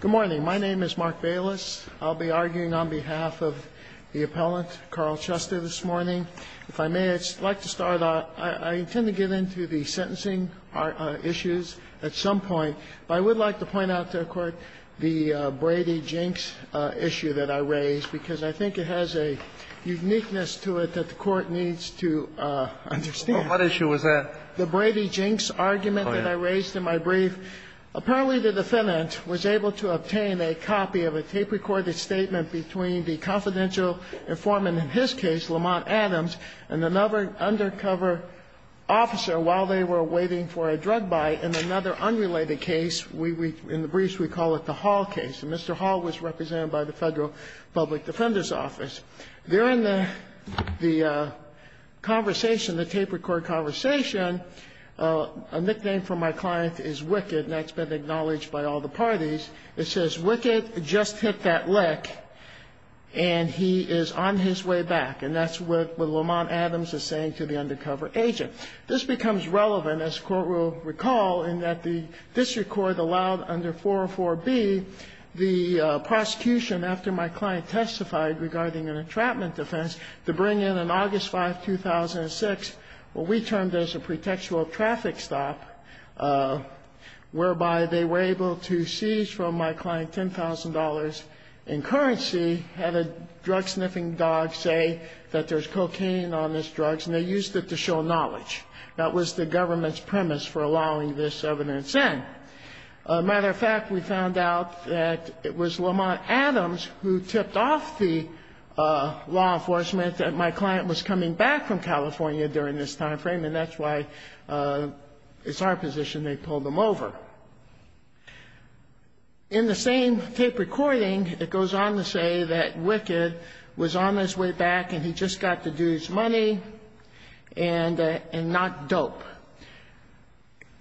Good morning. My name is Mark Bayless. I'll be arguing on behalf of the appellant, Carl Chester, this morning. If I may, I'd like to start off — I intend to get into the sentencing issues at some point, but I would like to point out to the Court the Brady-Jinks issue that I raised, because I think it has a uniqueness to it that the Court needs to understand. What issue was that? The Brady-Jinks argument that I raised in my brief. Apparently, the defendant was able to obtain a copy of a tape-recorded statement between the confidential informant in his case, Lamont Adams, and another undercover officer while they were waiting for a drug buy in another unrelated case. We — in the briefs, we call it the Hall case. And Mr. Hall was represented by the Federal Public Defender's Office. During the conversation, the tape-recorded conversation, a nickname for my client is Wicked, and that's been acknowledged by all the parties. It says, Wicked just hit that lick, and he is on his way back. And that's what Lamont Adams is saying to the undercover agent. This becomes relevant, as the Court will recall, in that the district court allowed under 404B, the prosecution, after my client testified regarding an entrapment defense, to bring in, on August 5, 2006, what we termed as a pretextual traffic stop, whereby they were able to seize from my client $10,000 in currency, have a drug-sniffing dog say that there's cocaine on this drug, and they used it to show knowledge. That was the government's premise for allowing this evidence in. As a matter of fact, we found out that it was Lamont Adams who tipped off the law enforcement that my client was coming back from California during this time frame, and that's why it's our position they pulled him over. In the same tape recording, it goes on to say that Wicked was on his way back, and he just got to do his money, and not dope.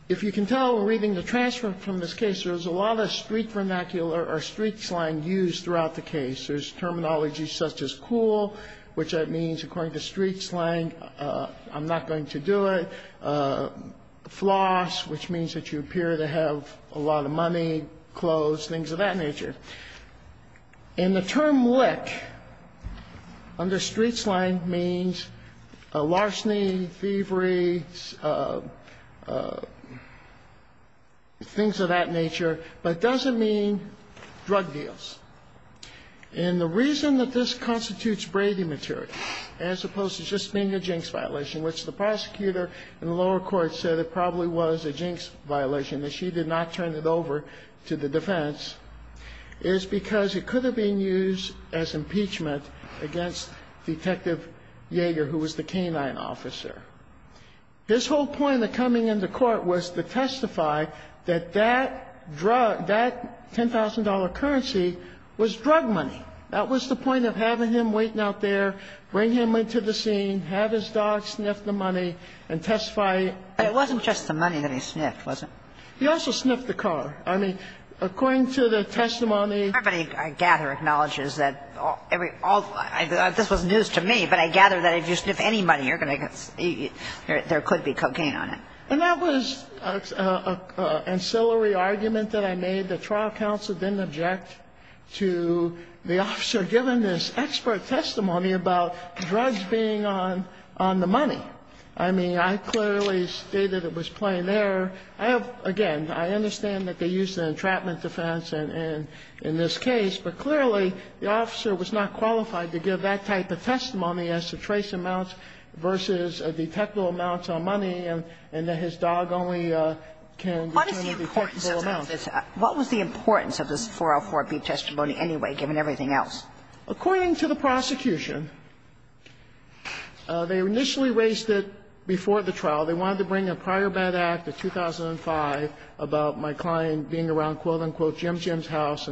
If you can tell, reading the transcript from this case, there's a lot of street vernacular or street slang used throughout the case. There's terminology such as cool, which means, according to street slang, I'm not going to do it, floss, which means that you appear to have a lot of money, clothes, things of that nature. And the term wick, under street slang, means larceny, thievery, things of that nature, but doesn't mean drug deals. And the reason that this constitutes Brady material, as opposed to just being a jinx violation, which the prosecutor in the lower court said it probably was a jinx violation that she did not turn it over to the defense, is because it could have been used as impeachment against Detective Yeager, who was the canine officer. His whole point of coming into court was to testify that that drug, that $10,000 currency, was drug money. That was the point of having him waiting out there, bring him into the scene, have his dog sniff the money, and testify. But it wasn't just the money that he sniffed, was it? He also sniffed the car. I mean, according to the testimony. Everybody I gather acknowledges that every, all, this was news to me, but I gather that if you sniff any money, there could be cocaine on it. And that was an ancillary argument that I made. The trial counsel didn't object to the officer giving this expert testimony about drugs being on the money. I mean, I clearly stated it was plain error. Again, I understand that they used an entrapment defense in this case, but clearly, the officer was not qualified to give that type of testimony as to trace amounts versus detectable amounts on money, and that his dog only can determine detectable amounts. What was the importance of this 404B testimony anyway, given everything else? According to the prosecution, they initially raised it before the trial. They wanted to bring a prior bad act of 2005 about my client being around quote-unquote Jim Jim's house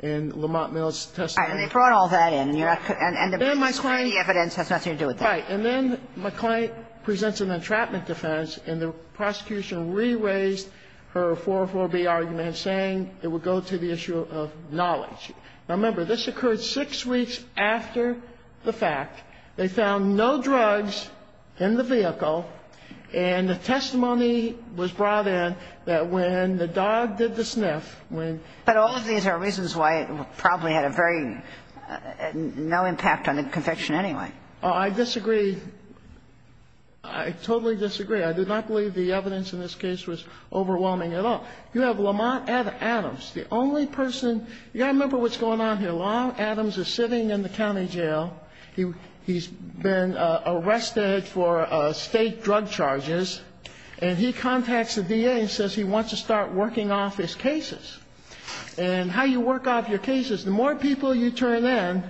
in Lamont Mills' testimony. And they brought all that in, and the evidence has nothing to do with that. And then my client presents an entrapment defense, and the prosecution re-raised her 404B argument, saying it would go to the issue of knowledge. Now, remember, this occurred six weeks after the fact. They found no drugs in the vehicle, and the testimony was brought in that when the lawyer came in, the victim was not well, and she was not well. And the prosecution said, well, we're going to have to have a sniff. And they said, well, we're going to have to have a sniff. But all of these are reasons why it probably had a very no impact on the conviction anyway. Oh, I disagree. I totally disagree. I did not believe the evidence in this case was overwhelming at all. You have Lamont Adams, the only person. You got to remember what's going on here. Lamont Adams is sitting in the county jail. He's been arrested for state drug charges, and he contacts the DA and says he wants to start working off his cases. And how you work off your cases, the more people you turn in,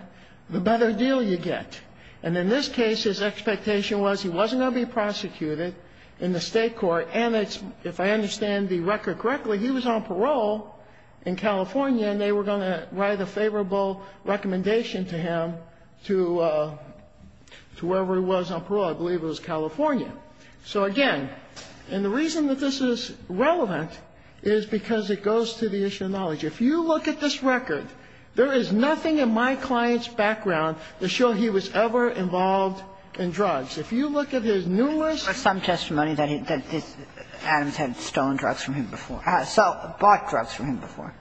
the better deal you get. And in this case, his expectation was he wasn't going to be prosecuted in the state court, and it's, if I understand the record correctly, he was on parole in California, and they were going to write a favorable recommendation to him to whoever he was on parole. I believe it was California. So, again, and the reason that this is relevant is because it goes to the issue of knowledge. If you look at this record, there is nothing in my client's background to show he was ever involved in drugs. If you look at his numerous or some testimony that Adams had stolen drugs from him before, bought drugs from him before.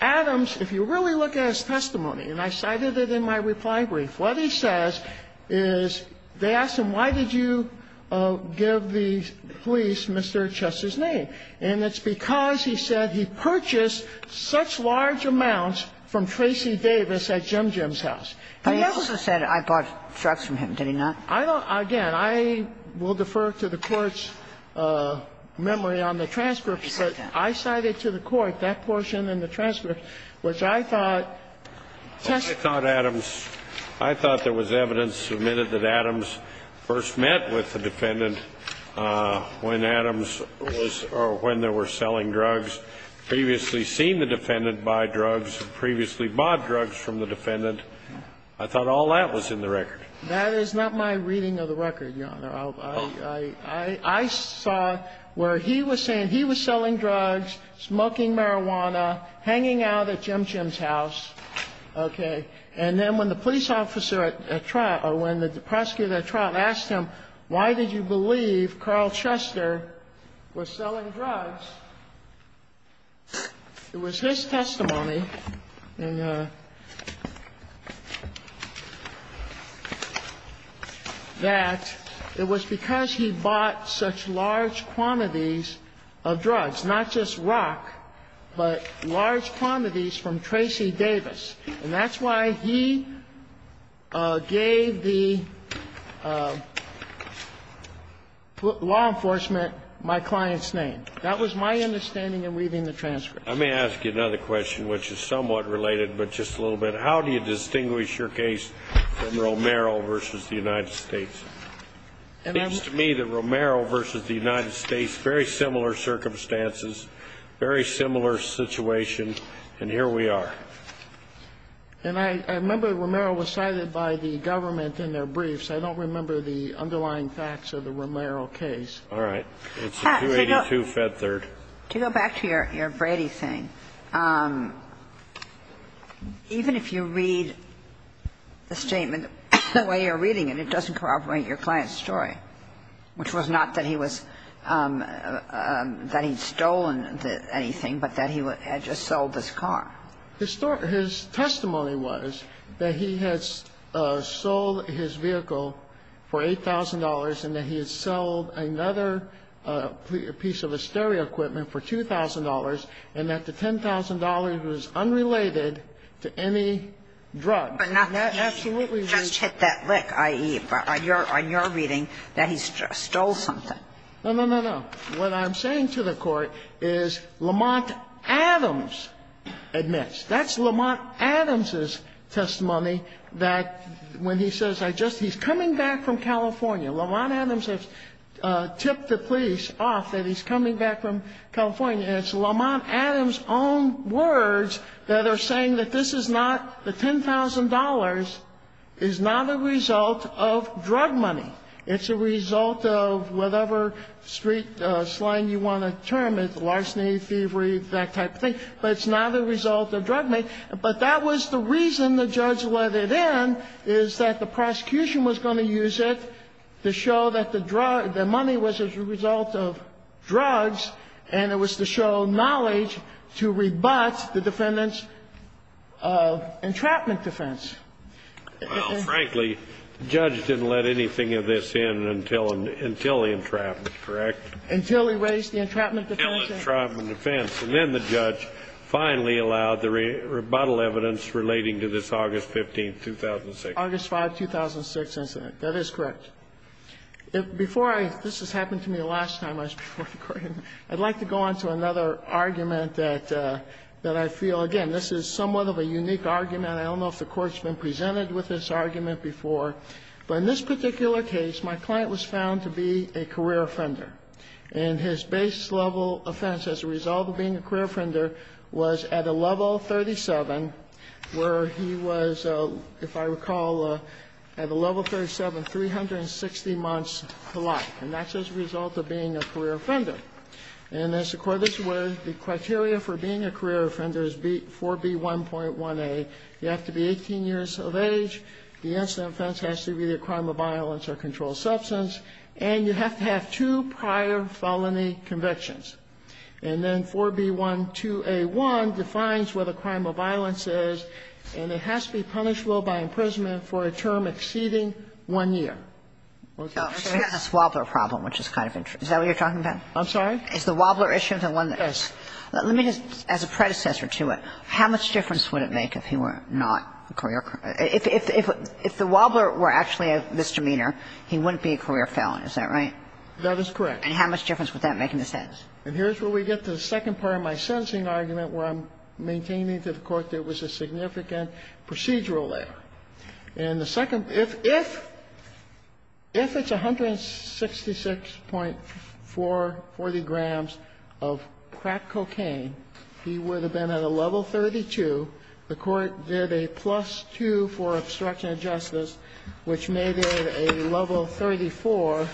Adams, if you really look at his testimony, and I cited it in my reply brief, what he says is they asked him, why did you give the police Mr. Chester's name? And it's because he said he purchased such large amounts from Tracy Davis at Jim Jim's house. He also said, I bought drugs from him. Did he not? I don't again, I will defer to the Court's memory on the transcripts, but I cited it to the Court, that portion in the transcript, which I thought tested. I thought Adams, I thought there was evidence submitted that Adams first met with the defendant when Adams was, or when they were selling drugs, previously seen the defendant buy drugs, previously bought drugs from the defendant. I thought all that was in the record. I saw where he was saying he was selling drugs, smoking marijuana, hanging out at Jim Jim's house, okay? And then when the police officer at trial, or when the prosecutor at trial asked him, why did you believe Carl Chester was selling drugs? It was his testimony, and that it was because he bought such large quantities of drugs, not just rock, but large quantities from Tracy Davis. And that's why he gave the law enforcement my client's name. That was my understanding in reading the transcript. I may ask you another question, which is somewhat related, but just a little bit. How do you distinguish your case from Romero v. The United States? It seems to me that Romero v. The United States, very similar circumstances, very similar situation, and here we are. And I remember Romero was cited by the government in their briefs. I don't remember the underlying facts of the Romero case. All right. It's a 282-Fed Third. To go back to your Brady thing, even if you read the statement the way you're reading it, it doesn't corroborate your client's story, which was not that he was – that he'd stolen anything, but that he had just sold this car. His testimony was that he had sold his vehicle for $8,000 and that he had sold another piece of a stereo equipment for $2,000, and that the $10,000 was unrelated to any drug. And that absolutely was – But not that he had just hit that lick, i.e., on your reading, that he stole something. No, no, no, no. What I'm saying to the Court is Lamont Adams admits. That's Lamont Adams' testimony that when he says, I just – he's coming back from California, and it's Lamont Adams' own words that are saying that this is not – the $10,000 is not a result of drug money. It's a result of whatever street slang you want to term it, larceny, thievery, that type of thing. But it's not a result of drug money. But that was the reason the judge let it in, is that the prosecution was going to use it to show that the drug – the money was a result of drugs, and it was to show knowledge to rebut the defendant's entrapment defense. Well, frankly, the judge didn't let anything of this in until the entrapment, correct? Until he raised the entrapment defense. Until the entrapment defense. And then the judge finally allowed the rebuttal evidence relating to this August 15, 2006. August 5, 2006 incident. That is correct. Before I – this has happened to me the last time I spoke before the Court. I'd like to go on to another argument that I feel – again, this is somewhat of a unique argument. I don't know if the Court's been presented with this argument before. But in this particular case, my client was found to be a career offender. And his base-level offense as a result of being a career offender was at a level 37, where he was, if I recall, at a level 37, 360 months to life. And that's as a result of being a career offender. And as the Court is aware, the criteria for being a career offender is 4B1.1a. You have to be 18 years of age. The incident offense has to be a crime of violence or controlled substance. And you have to have two prior felony convictions. And then 4B1.2a.1 defines where the crime of violence is, and it has to be punishable by imprisonment for a term exceeding 1 year. Okay. We have this Wobbler problem, which is kind of interesting. Is that what you are talking about? I'm sorry? It's the Wobbler issue, the one that's – let me just. As a predecessor to it, how much difference would it make if he were not a career – if the Wobbler were actually a misdemeanor, he wouldn't be a career felon, is that right? That is correct. And how much difference would that make in the sentence? And here's where we get to the second part of my sentencing argument, where I'm maintaining to the Court that it was a significant procedural error. And the second – if it's 166.440 grams of crack cocaine, he would have been at a level 34, and the level 34,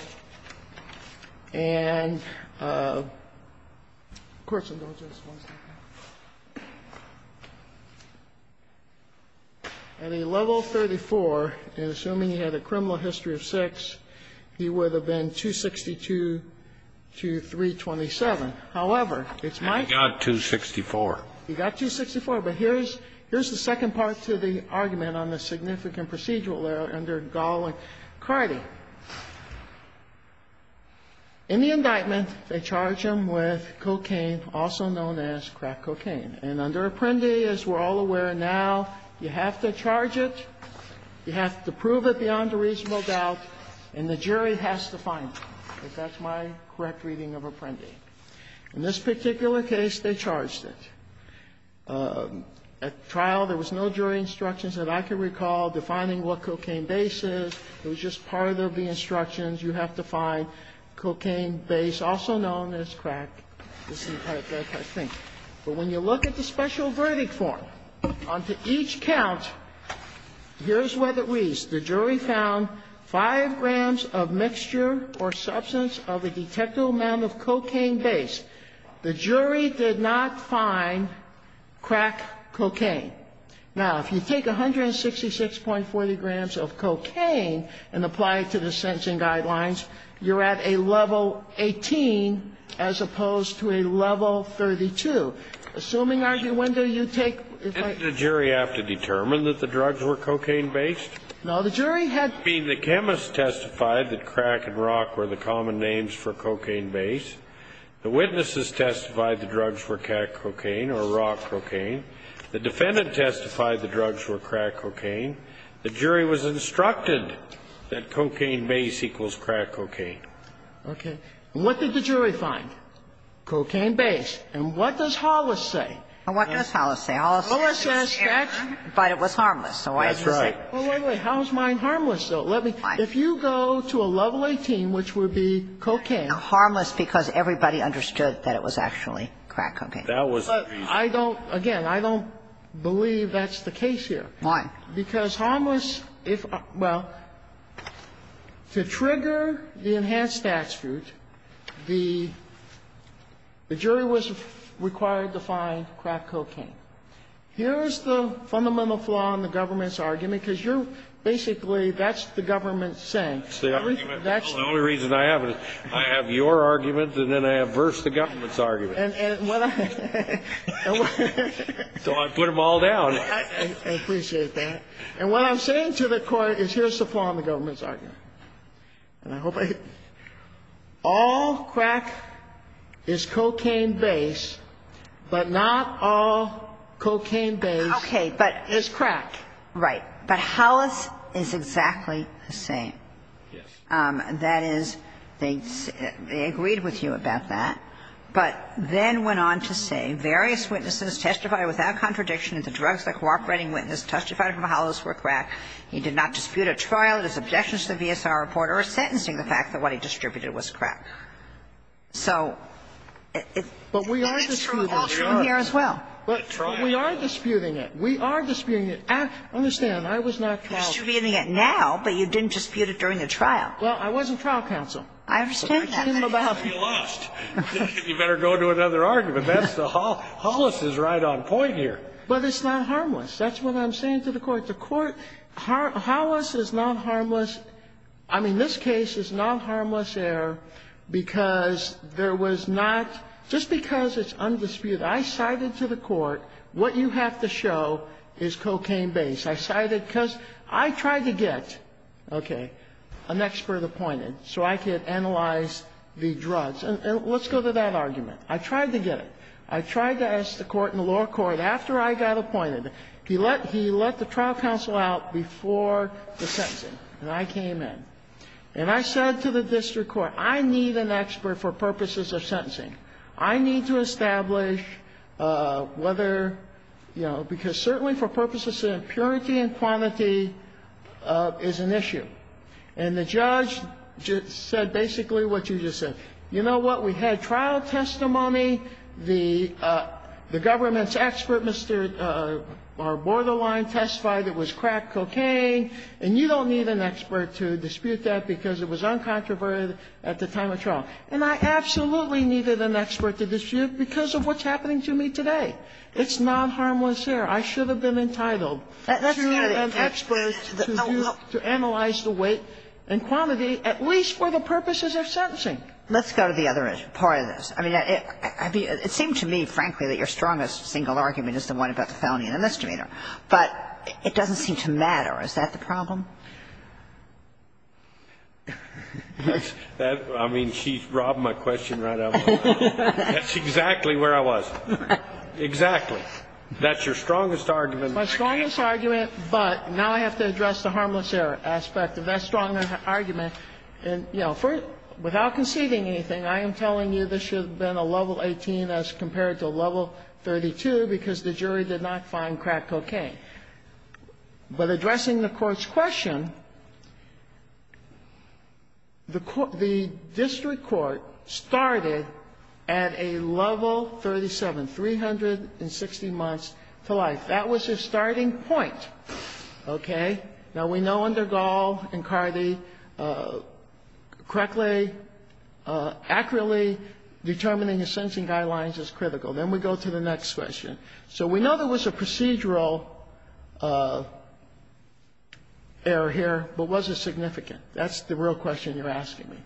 and assuming he had a criminal history of sex, he would have been 262 to 327. However, it's my – He got 264. He got 264. But here's the second part to the argument on the significant procedural error under Gall and Cardi. In the indictment, they charge him with cocaine, also known as crack cocaine. And under Apprendi, as we're all aware now, you have to charge it, you have to prove it beyond a reasonable doubt, and the jury has to find it, if that's my correct reading of Apprendi. In this particular case, they charged it. At trial, there was no jury instructions that I can recall defining what cocaine base is. It was just part of the instructions. You have to find cocaine base, also known as crack. This is the part that I think. But when you look at the special verdict form, onto each count, here's where it reads, the jury found 5 grams of mixture or substance of a detectable amount of cocaine base. The jury did not find crack cocaine. Now, if you take 166.40 grams of cocaine and apply it to the sentencing guidelines, you're at a level 18 as opposed to a level 32. Assuming argue, when do you take the jury have to determine that the drugs were cocaine based? No. The jury had been the chemist testified that crack and rock were the common names for cocaine base. The witnesses testified the drugs were crack cocaine or rock cocaine. The defendant testified the drugs were crack cocaine. The jury was instructed that cocaine base equals crack cocaine. Okay. What did the jury find? Cocaine base. And what does Hollis say? And what does Hollis say? Hollis says that's. But it was harmless. So why does it say? That's right. Well, wait, wait. How is mine harmless, though? Let me. If you go to a level 18, which would be cocaine. Harmless because everybody understood that it was actually crack cocaine. That was the reason. I don't, again, I don't believe that's the case here. Why? Because harmless, if, well, to trigger the enhanced statute, the jury was required to find crack cocaine. Here's the fundamental flaw in the government's argument, because you're basically that's the government saying. The only reason I have is I have your argument, and then I have versus the government's argument. So I put them all down. I appreciate that. And what I'm saying to the Court is here's the flaw in the government's argument. And I hope I hit it. All crack is cocaine base, but not all cocaine base is crack. Right. But Hollis is exactly the same. Yes. That is, they agreed with you about that, but then went on to say various witnesses testified without contradiction that the drugs the cooperating witness testified from Hollis were crack. He did not dispute a trial, his objections to the VSR report or sentencing the fact that what he distributed was crack. So it's true here as well. But we are disputing it. We are disputing it. Understand, I was not called. You're disputing it now, but you didn't dispute it during the trial. Well, I was a trial counsel. I understand that. You better go to another argument. That's the Hollis is right on point here. But it's not harmless. That's what I'm saying to the Court. The Court, Hollis is not harmless. I mean, this case is not harmless error because there was not, just because it's undisputed, I cited to the Court what you have to show is cocaine base. I cited, because I tried to get, okay, an expert appointed so I could analyze the drugs. And let's go to that argument. I tried to get it. I tried to ask the Court in the lower court, after I got appointed, he let the trial counsel out before the sentencing, and I came in. And I said to the district court, I need an expert for purposes of sentencing. I need to establish whether, you know, because certainly for purposes of impurity and quantity is an issue. And the judge said basically what you just said. You know what? We had trial testimony. The government's expert, Mr. Borderline, testified it was crack cocaine, and you don't need an expert to dispute that because it was uncontroverted at the time of trial. And I absolutely needed an expert to dispute because of what's happening to me today. It's not harmless error. I should have been entitled. That's kind of the effect. To have experts to analyze the weight and quantity, at least for the purposes of sentencing. Let's go to the other part of this. I mean, it seemed to me, frankly, that your strongest single argument is the one about the felony and the misdemeanor, but it doesn't seem to matter. Is that the problem? I mean, she robbed my question right out of my mouth. That's exactly where I was. Exactly. That's your strongest argument. My strongest argument, but now I have to address the harmless error aspect of that strongest argument. And, you know, without conceding anything, I am telling you this should have been a level 18 as compared to a level 32 because the jury did not find crack cocaine. But addressing the Court's question, the district court started at a level 37, 360 months to life. That was their starting point. Okay? Now, we know under Gall and Cardi, correctly, accurately determining the sentencing guidelines is critical. Then we go to the next question. So we know there was a procedural error here, but was it significant? That's the real question you're asking me.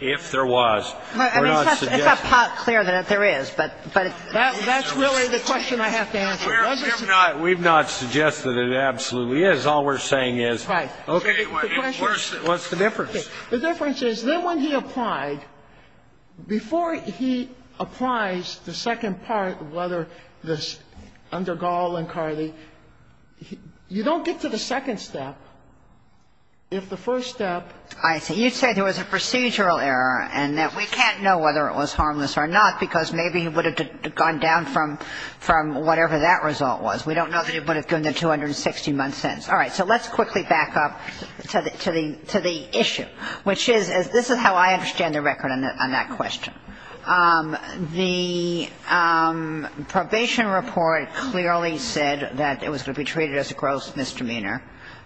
If there was. We're not suggesting. It's not clear that there is, but it's not clear if there was. We've not suggested it absolutely is. All we're saying is, okay, what's the difference? The difference is then when he applied, before he applies the second part, whether this under Gall and Cardi, you don't get to the second step if the first step. I see. You said there was a procedural error and that we can't know whether it was harmless or not because maybe it would have gone down from whatever that result was. We don't know that it would have gone to the 260-month sentence. All right, so let's quickly back up to the issue, which is, this is how I understand the record on that question. The probation report clearly said that it was going to be treated as a gross misdemeanor,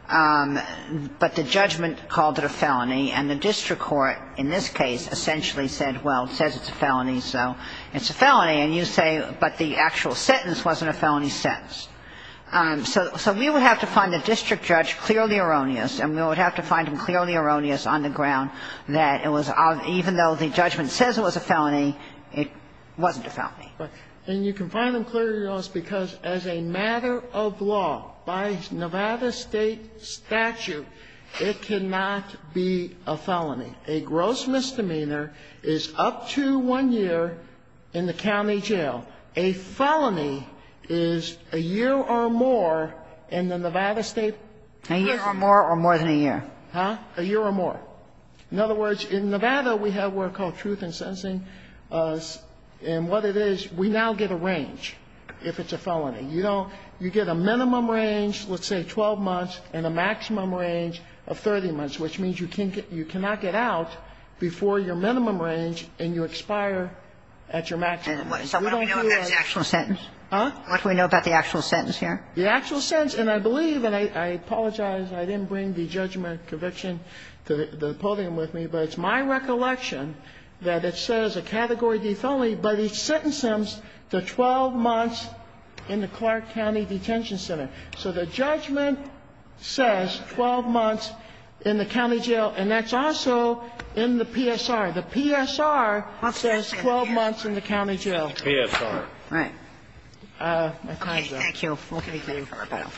but the judgment called it a felony, and the district court, in this case, essentially said, well, it says it's a felony, so it's a felony. And you say, but the actual sentence wasn't a felony sentence. So we would have to find a district judge clearly erroneous, and we would have to find him clearly erroneous on the ground that it was, even though the judgment says it was a felony, it wasn't a felony. And you can find them clearly erroneous because as a matter of law, by Nevada State statute, it cannot be a felony. A gross misdemeanor is up to one year in the county jail. A felony is a year or more in the Nevada State prison. A year or more or more than a year. Huh? A year or more. In other words, in Nevada, we have what are called truth in sentencing, and what it is, we now get a range if it's a felony. You don't you get a minimum range, let's say 12 months, and a maximum range of 30 months, which means you can't get you cannot get out before your minimum range and you expire at your maximum. So what do we know about the actual sentence? Huh? What do we know about the actual sentence here? The actual sentence, and I believe, and I apologize, I didn't bring the judgment conviction to the podium with me, but it's my recollection that it says a category of a felony, but it sentences them to 12 months in the Clark County Detention Center. So the judgment says 12 months in the county jail, and that's also in the PSR. The PSR says 12 months in the county jail. PSR. Right. Thank you. We'll take a rebuttal.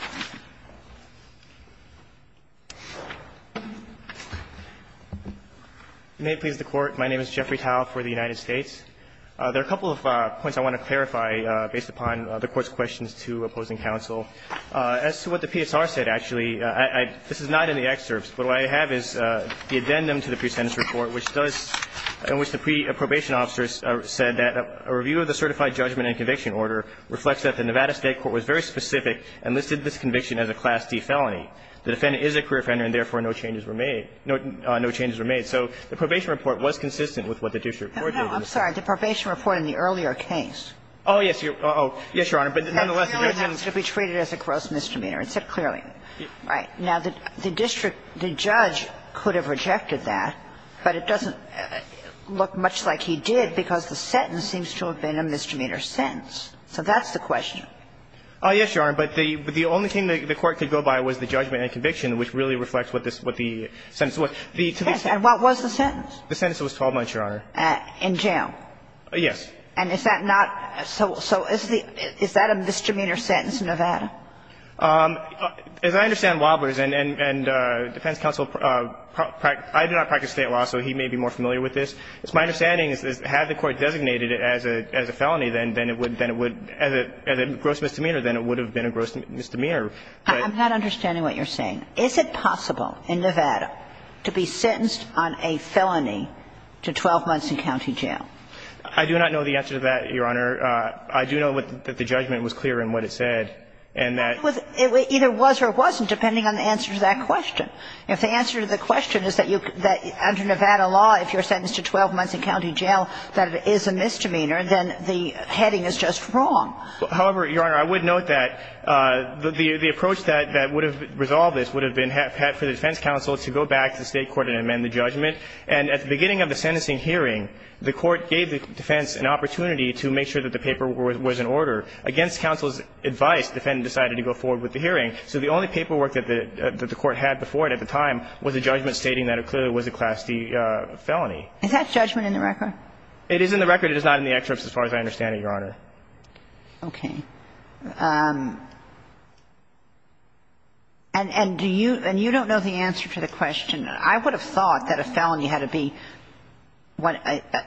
May it please the Court. My name is Jeffrey Tao for the United States. There are a couple of points I want to clarify based upon the Court's questions to opposing counsel. As to what the PSR said, actually, I this is not in the excerpts, but what I have is the addendum to the pre-sentence report, which does, in which the pre-probation officers said that a review of the certified judgment and conviction order reflects that the Nevada State Court was very specific and listed this conviction as a Class D felony. The defendant is a career offender and, therefore, no changes were made. So the probation report was consistent with what the district court did. No, no, I'm sorry. The probation report in the earlier case. Oh, yes, Your Honor, but nonetheless, the district court did not say that. That clearly has to be treated as a gross misdemeanor. It said clearly. Right. Now, the district, the judge could have rejected that, but it doesn't look much like he did because the sentence seems to have been a misdemeanor sentence. So that's the question. Yes, Your Honor, but the only thing the Court could go by was the judgment and conviction, which really reflects what the sentence was. Yes, and what was the sentence? The sentence was 12 months, Your Honor. In jail? Yes. And is that not so – so is the – is that a misdemeanor sentence in Nevada? As I understand Wobblers and defense counsel, I do not practice state law, so he may be more familiar with this. It's my understanding is that had the Court designated it as a felony, then it would – then it would – as a gross misdemeanor, then it would have been a gross misdemeanor. I'm not understanding what you're saying. Is it possible in Nevada to be sentenced on a felony to 12 months in county jail? I do not know the answer to that, Your Honor. I do know that the judgment was clear in what it said. And that – It was – it either was or wasn't, depending on the answer to that question. If the answer to the question is that you – that under Nevada law, if you're sentenced to 12 months in county jail, that it is a misdemeanor, then the heading is just wrong. However, Your Honor, I would note that the approach that would have resolved this would have been for the defense counsel to go back to the State court and amend the judgment. And at the beginning of the sentencing hearing, the Court gave the defense an opportunity to make sure that the paper was in order. Against counsel's advice, the defendant decided to go forward with the hearing. So the only paperwork that the – that the Court had before it at the time was a judgment stating that it clearly was a Class D felony. Is that judgment in the record? It is in the record. It is not in the excerpts as far as I understand it, Your Honor. Okay. And do you – and you don't know the answer to the question. I would have thought that a felony had to be, what,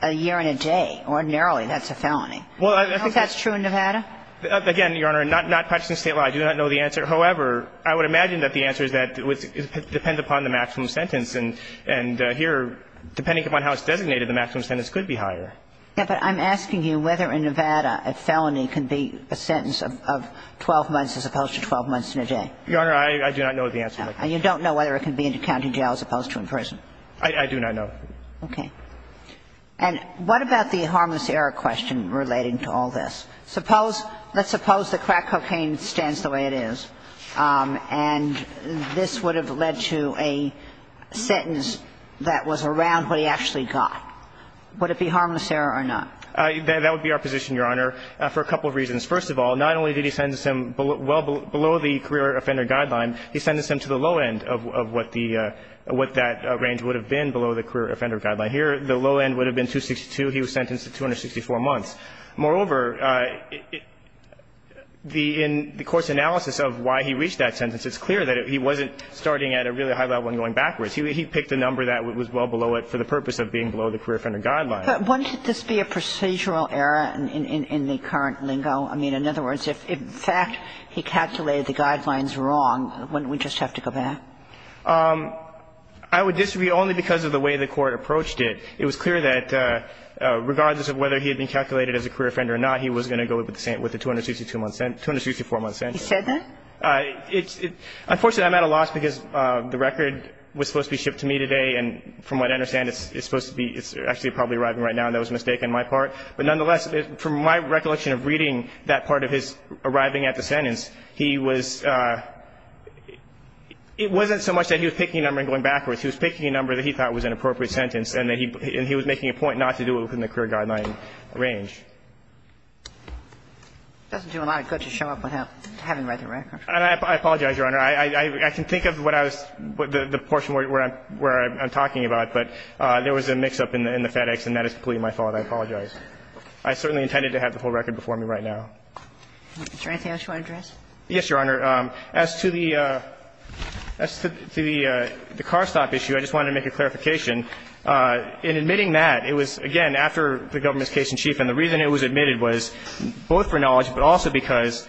a year and a day. Ordinarily, that's a felony. Well, I think that's true in Nevada? Again, Your Honor, not practicing State law, I do not know the answer. However, I would imagine that the answer is that it would depend upon the maximum sentence. And here, depending upon how it's designated, the maximum sentence could be higher. Yes, but I'm asking you whether in Nevada a felony can be a sentence of 12 months as opposed to 12 months and a day. Your Honor, I do not know the answer to that. And you don't know whether it can be in county jail as opposed to in prison? I do not know. Okay. And what about the harmless error question relating to all this? Suppose – let's suppose the crack cocaine stands the way it is, and this would have led to a sentence that was around what he actually got. Would it be harmless error or not? That would be our position, Your Honor, for a couple of reasons. First of all, not only did he sentence him well below the career offender guideline, he sentenced him to the low end of what the – what that range would have been below the career offender guideline. Here, the low end would have been 262. He was sentenced to 264 months. Moreover, the – in the court's analysis of why he reached that sentence, it's clear that he wasn't starting at a really high level and going backwards. He picked a number that was well below it for the purpose of being below the career offender guideline. But wouldn't this be a procedural error in the current lingo? I mean, in other words, if in fact he calculated the guidelines wrong, wouldn't we just have to go back? I would disagree only because of the way the court approached it. It was clear that regardless of whether he had been calculated as a career offender or not, he was going to go with the 262-month sentence – 264-month sentence. He said that? It's – unfortunately, I'm at a loss because the record was supposed to be shipped to me today, and from what I understand, it's supposed to be – it's actually probably arriving right now, and that was a mistake on my part. But nonetheless, from my recollection of reading that part of his arriving at the It wasn't so much that he was picking a number and going backwards. He was picking a number that he thought was an appropriate sentence, and he was making a point not to do it within the career guideline range. It doesn't do a lot of good to show up without having read the record. I apologize, Your Honor. I can think of what I was – the portion where I'm talking about, but there was a mix-up in the FedEx, and that is completely my fault. I apologize. I certainly intended to have the whole record before me right now. Is there anything else you want to address? Yes, Your Honor. As to the – as to the car stop issue, I just wanted to make a clarification. In admitting that, it was, again, after the government's case in chief, and the reason it was admitted was both for knowledge, but also because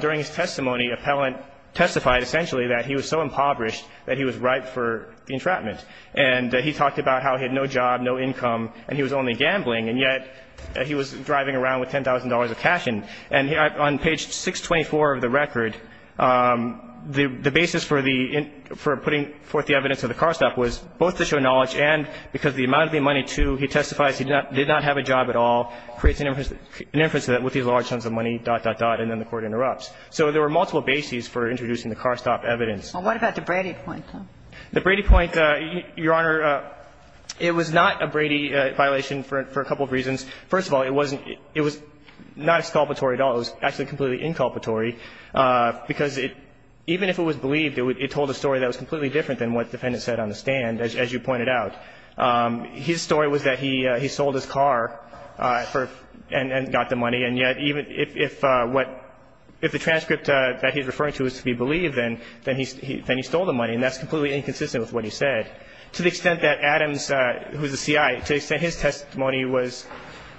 during his testimony, appellant testified essentially that he was so impoverished that he was ripe for the entrapment. And he talked about how he had no job, no income, and he was only gambling, and yet he was driving around with $10,000 of cash in. And on page 624 of the record, the basis for the – for putting forth the evidence of the car stop was both to show knowledge and because the amount of the money, too, he testifies he did not have a job at all, creates an inference that with these large sums of money, dot, dot, dot, and then the court interrupts. So there were multiple bases for introducing the car stop evidence. Well, what about the Brady point, though? The Brady point, Your Honor, it was not a Brady violation for a couple of reasons. First of all, it wasn't – it was not exculpatory at all. It was actually completely inculpatory because it – even if it was believed, it told a story that was completely different than what the defendant said on the stand, as you pointed out. His story was that he sold his car for – and got the money, and yet even if what – if the transcript that he's referring to is to be believed, then he stole the money, and that's completely inconsistent with what he said. To the extent that Adams, who's a C.I., to the extent his testimony was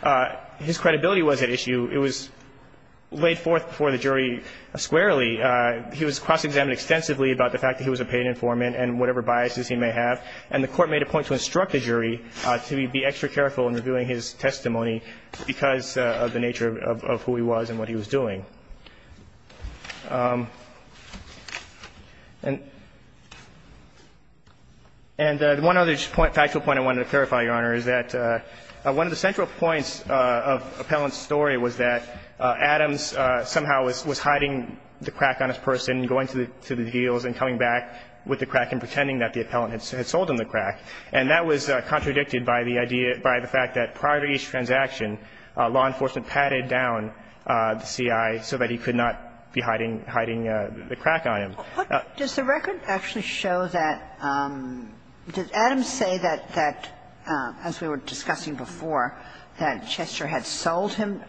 – his credibility was at issue, it was laid forth before the jury squarely. He was cross-examined extensively about the fact that he was a paid informant and whatever biases he may have, and the Court made a point to instruct the jury to be extra careful in reviewing his testimony because of the nature of who he was and what he was doing. And one other point – factual point I wanted to clarify, Your Honor, is that one of the central points of Appellant's story was that Adams somehow was hiding the crack on his person, going to the deals, and coming back with the crack and pretending that the appellant had sold him the crack, and that was contradicted by the idea – by the fact that prior to each transaction, law enforcement patted down the C.I. so that he could not be hiding – hiding the crack on him. Does the record actually show that – does Adams say that, as we were discussing before, that Chester had sold him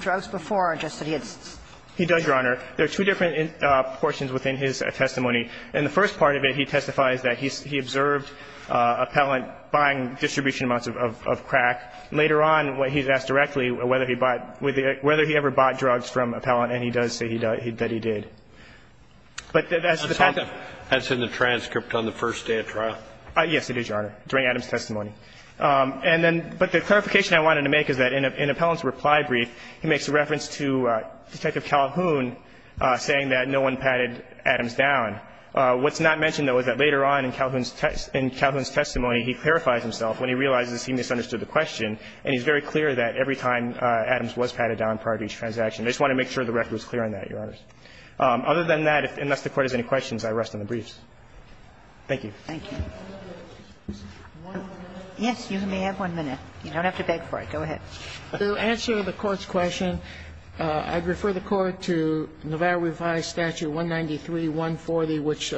drugs before or just that he had – He does, Your Honor. There are two different portions within his testimony. In the first part of it, he testifies that he observed Appellant buying distribution amounts of crack. Later on, he's asked directly whether he ever bought drugs from Appellant, and he does say that he did. But that's the fact that – That's in the transcript on the first day of trial. Yes, it is, Your Honor, during Adams' testimony. And then – but the clarification I wanted to make is that in Appellant's reply brief, he makes a reference to Detective Calhoun saying that no one patted Adams down. What's not mentioned, though, is that later on in Calhoun's testimony, he clarifies himself when he realizes he misunderstood the question, and he's very clear that every time Adams was patted down prior to each transaction. I just wanted to make sure the record was clear on that, Your Honor. Other than that, unless the Court has any questions, I rest on the briefs. Thank you. Thank you. Yes, you may have one minute. You don't have to beg for it. Go ahead. To answer the Court's question, I'd refer the Court to Nevada Revised Statute 193.140, which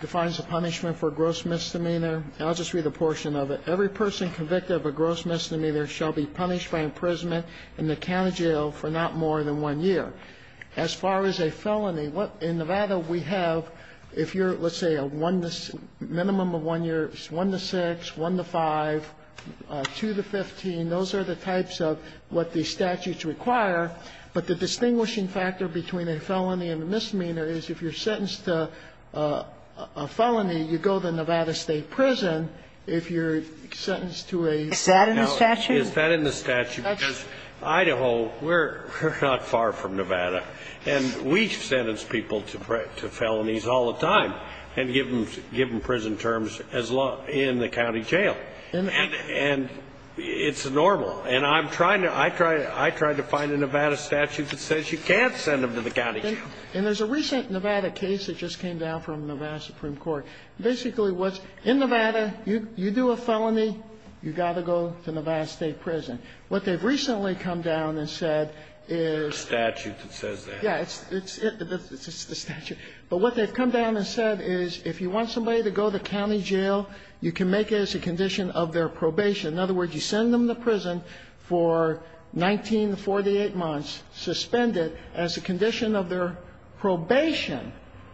defines the punishment for gross misdemeanor. And I'll just read a portion of it. Every person convicted of a gross misdemeanor shall be punished by imprisonment in the county jail for not more than one year. As far as a felony, in Nevada we have, if you're, let's say, a one to – minimum of one year, it's one to six, one to five, two to 15. Those are the types of what the statutes require. But the distinguishing factor between a felony and a misdemeanor is if you're sentenced to a felony, you go to Nevada State Prison. If you're sentenced to a – Is that in the statute? Is that in the statute? Because Idaho, we're not far from Nevada. And we sentence people to felonies all the time and give them prison terms as law in the county jail. And it's normal. And I'm trying to – I tried to find a Nevada statute that says you can't send them to the county jail. And there's a recent Nevada case that just came down from Nevada Supreme Court. Basically what's – in Nevada, you do a felony, you got to go to Nevada State Prison. What they've recently come down and said is – The statute that says that. Yes. It's the statute. But what they've come down and said is if you want somebody to go to county jail, you can make it as a condition of their probation. In other words, you send them to prison for 19 to 48 months, suspend it as a condition of their probation,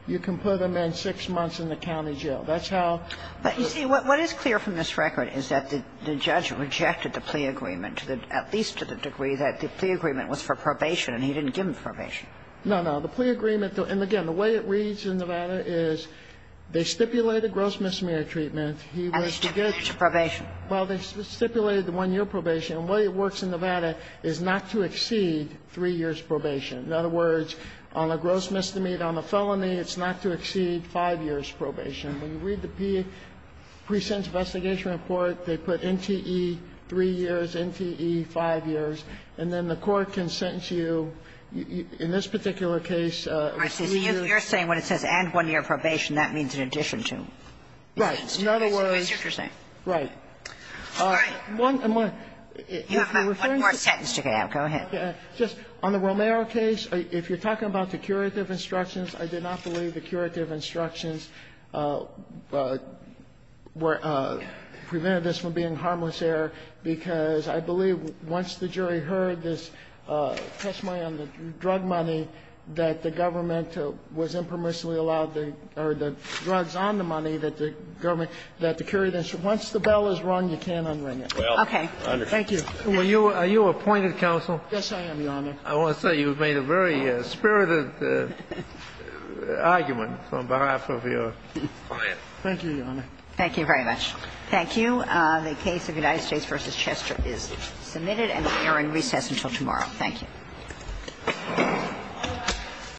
you can put them in six months in the county jail. That's how – But, you see, what is clear from this record is that the judge rejected the plea agreement to the – at least to the degree that the plea agreement was for probation, and he didn't give them probation. No, no. The plea agreement – and, again, the way it reads in Nevada is they stipulated gross misdemeanor treatment. He was to get – I stipulated probation. Well, they stipulated the one-year probation. And the way it works in Nevada is not to exceed three years probation. In other words, on a gross misdemeanor, on a felony, it's not to exceed five years probation. When you read the pre-sentence investigation report, they put NTE three years, NTE five years. And then the court can sentence you in this particular case. You – You're saying when it says and one-year probation, that means in addition to. Right. In other words – That's what you're saying. Right. All right. You have one more sentence to get out. Go ahead. Okay. Just on the Romero case, if you're talking about the curative instructions, I did not believe the curative instructions were – prevented this from being harmless error, because I believe once the jury heard this testimony on the drug money that the government was impermissibly allowed the – or the drugs on the money that the government – that the curative – once the bell is rung, you can't unring it. Okay. Thank you. Are you appointed, counsel? Yes, I am, Your Honor. I want to say you've made a very spirited argument on behalf of your client. Thank you, Your Honor. Thank you very much. Thank you. The case of United States v. Chester is submitted and will air in recess until tomorrow. Thank you.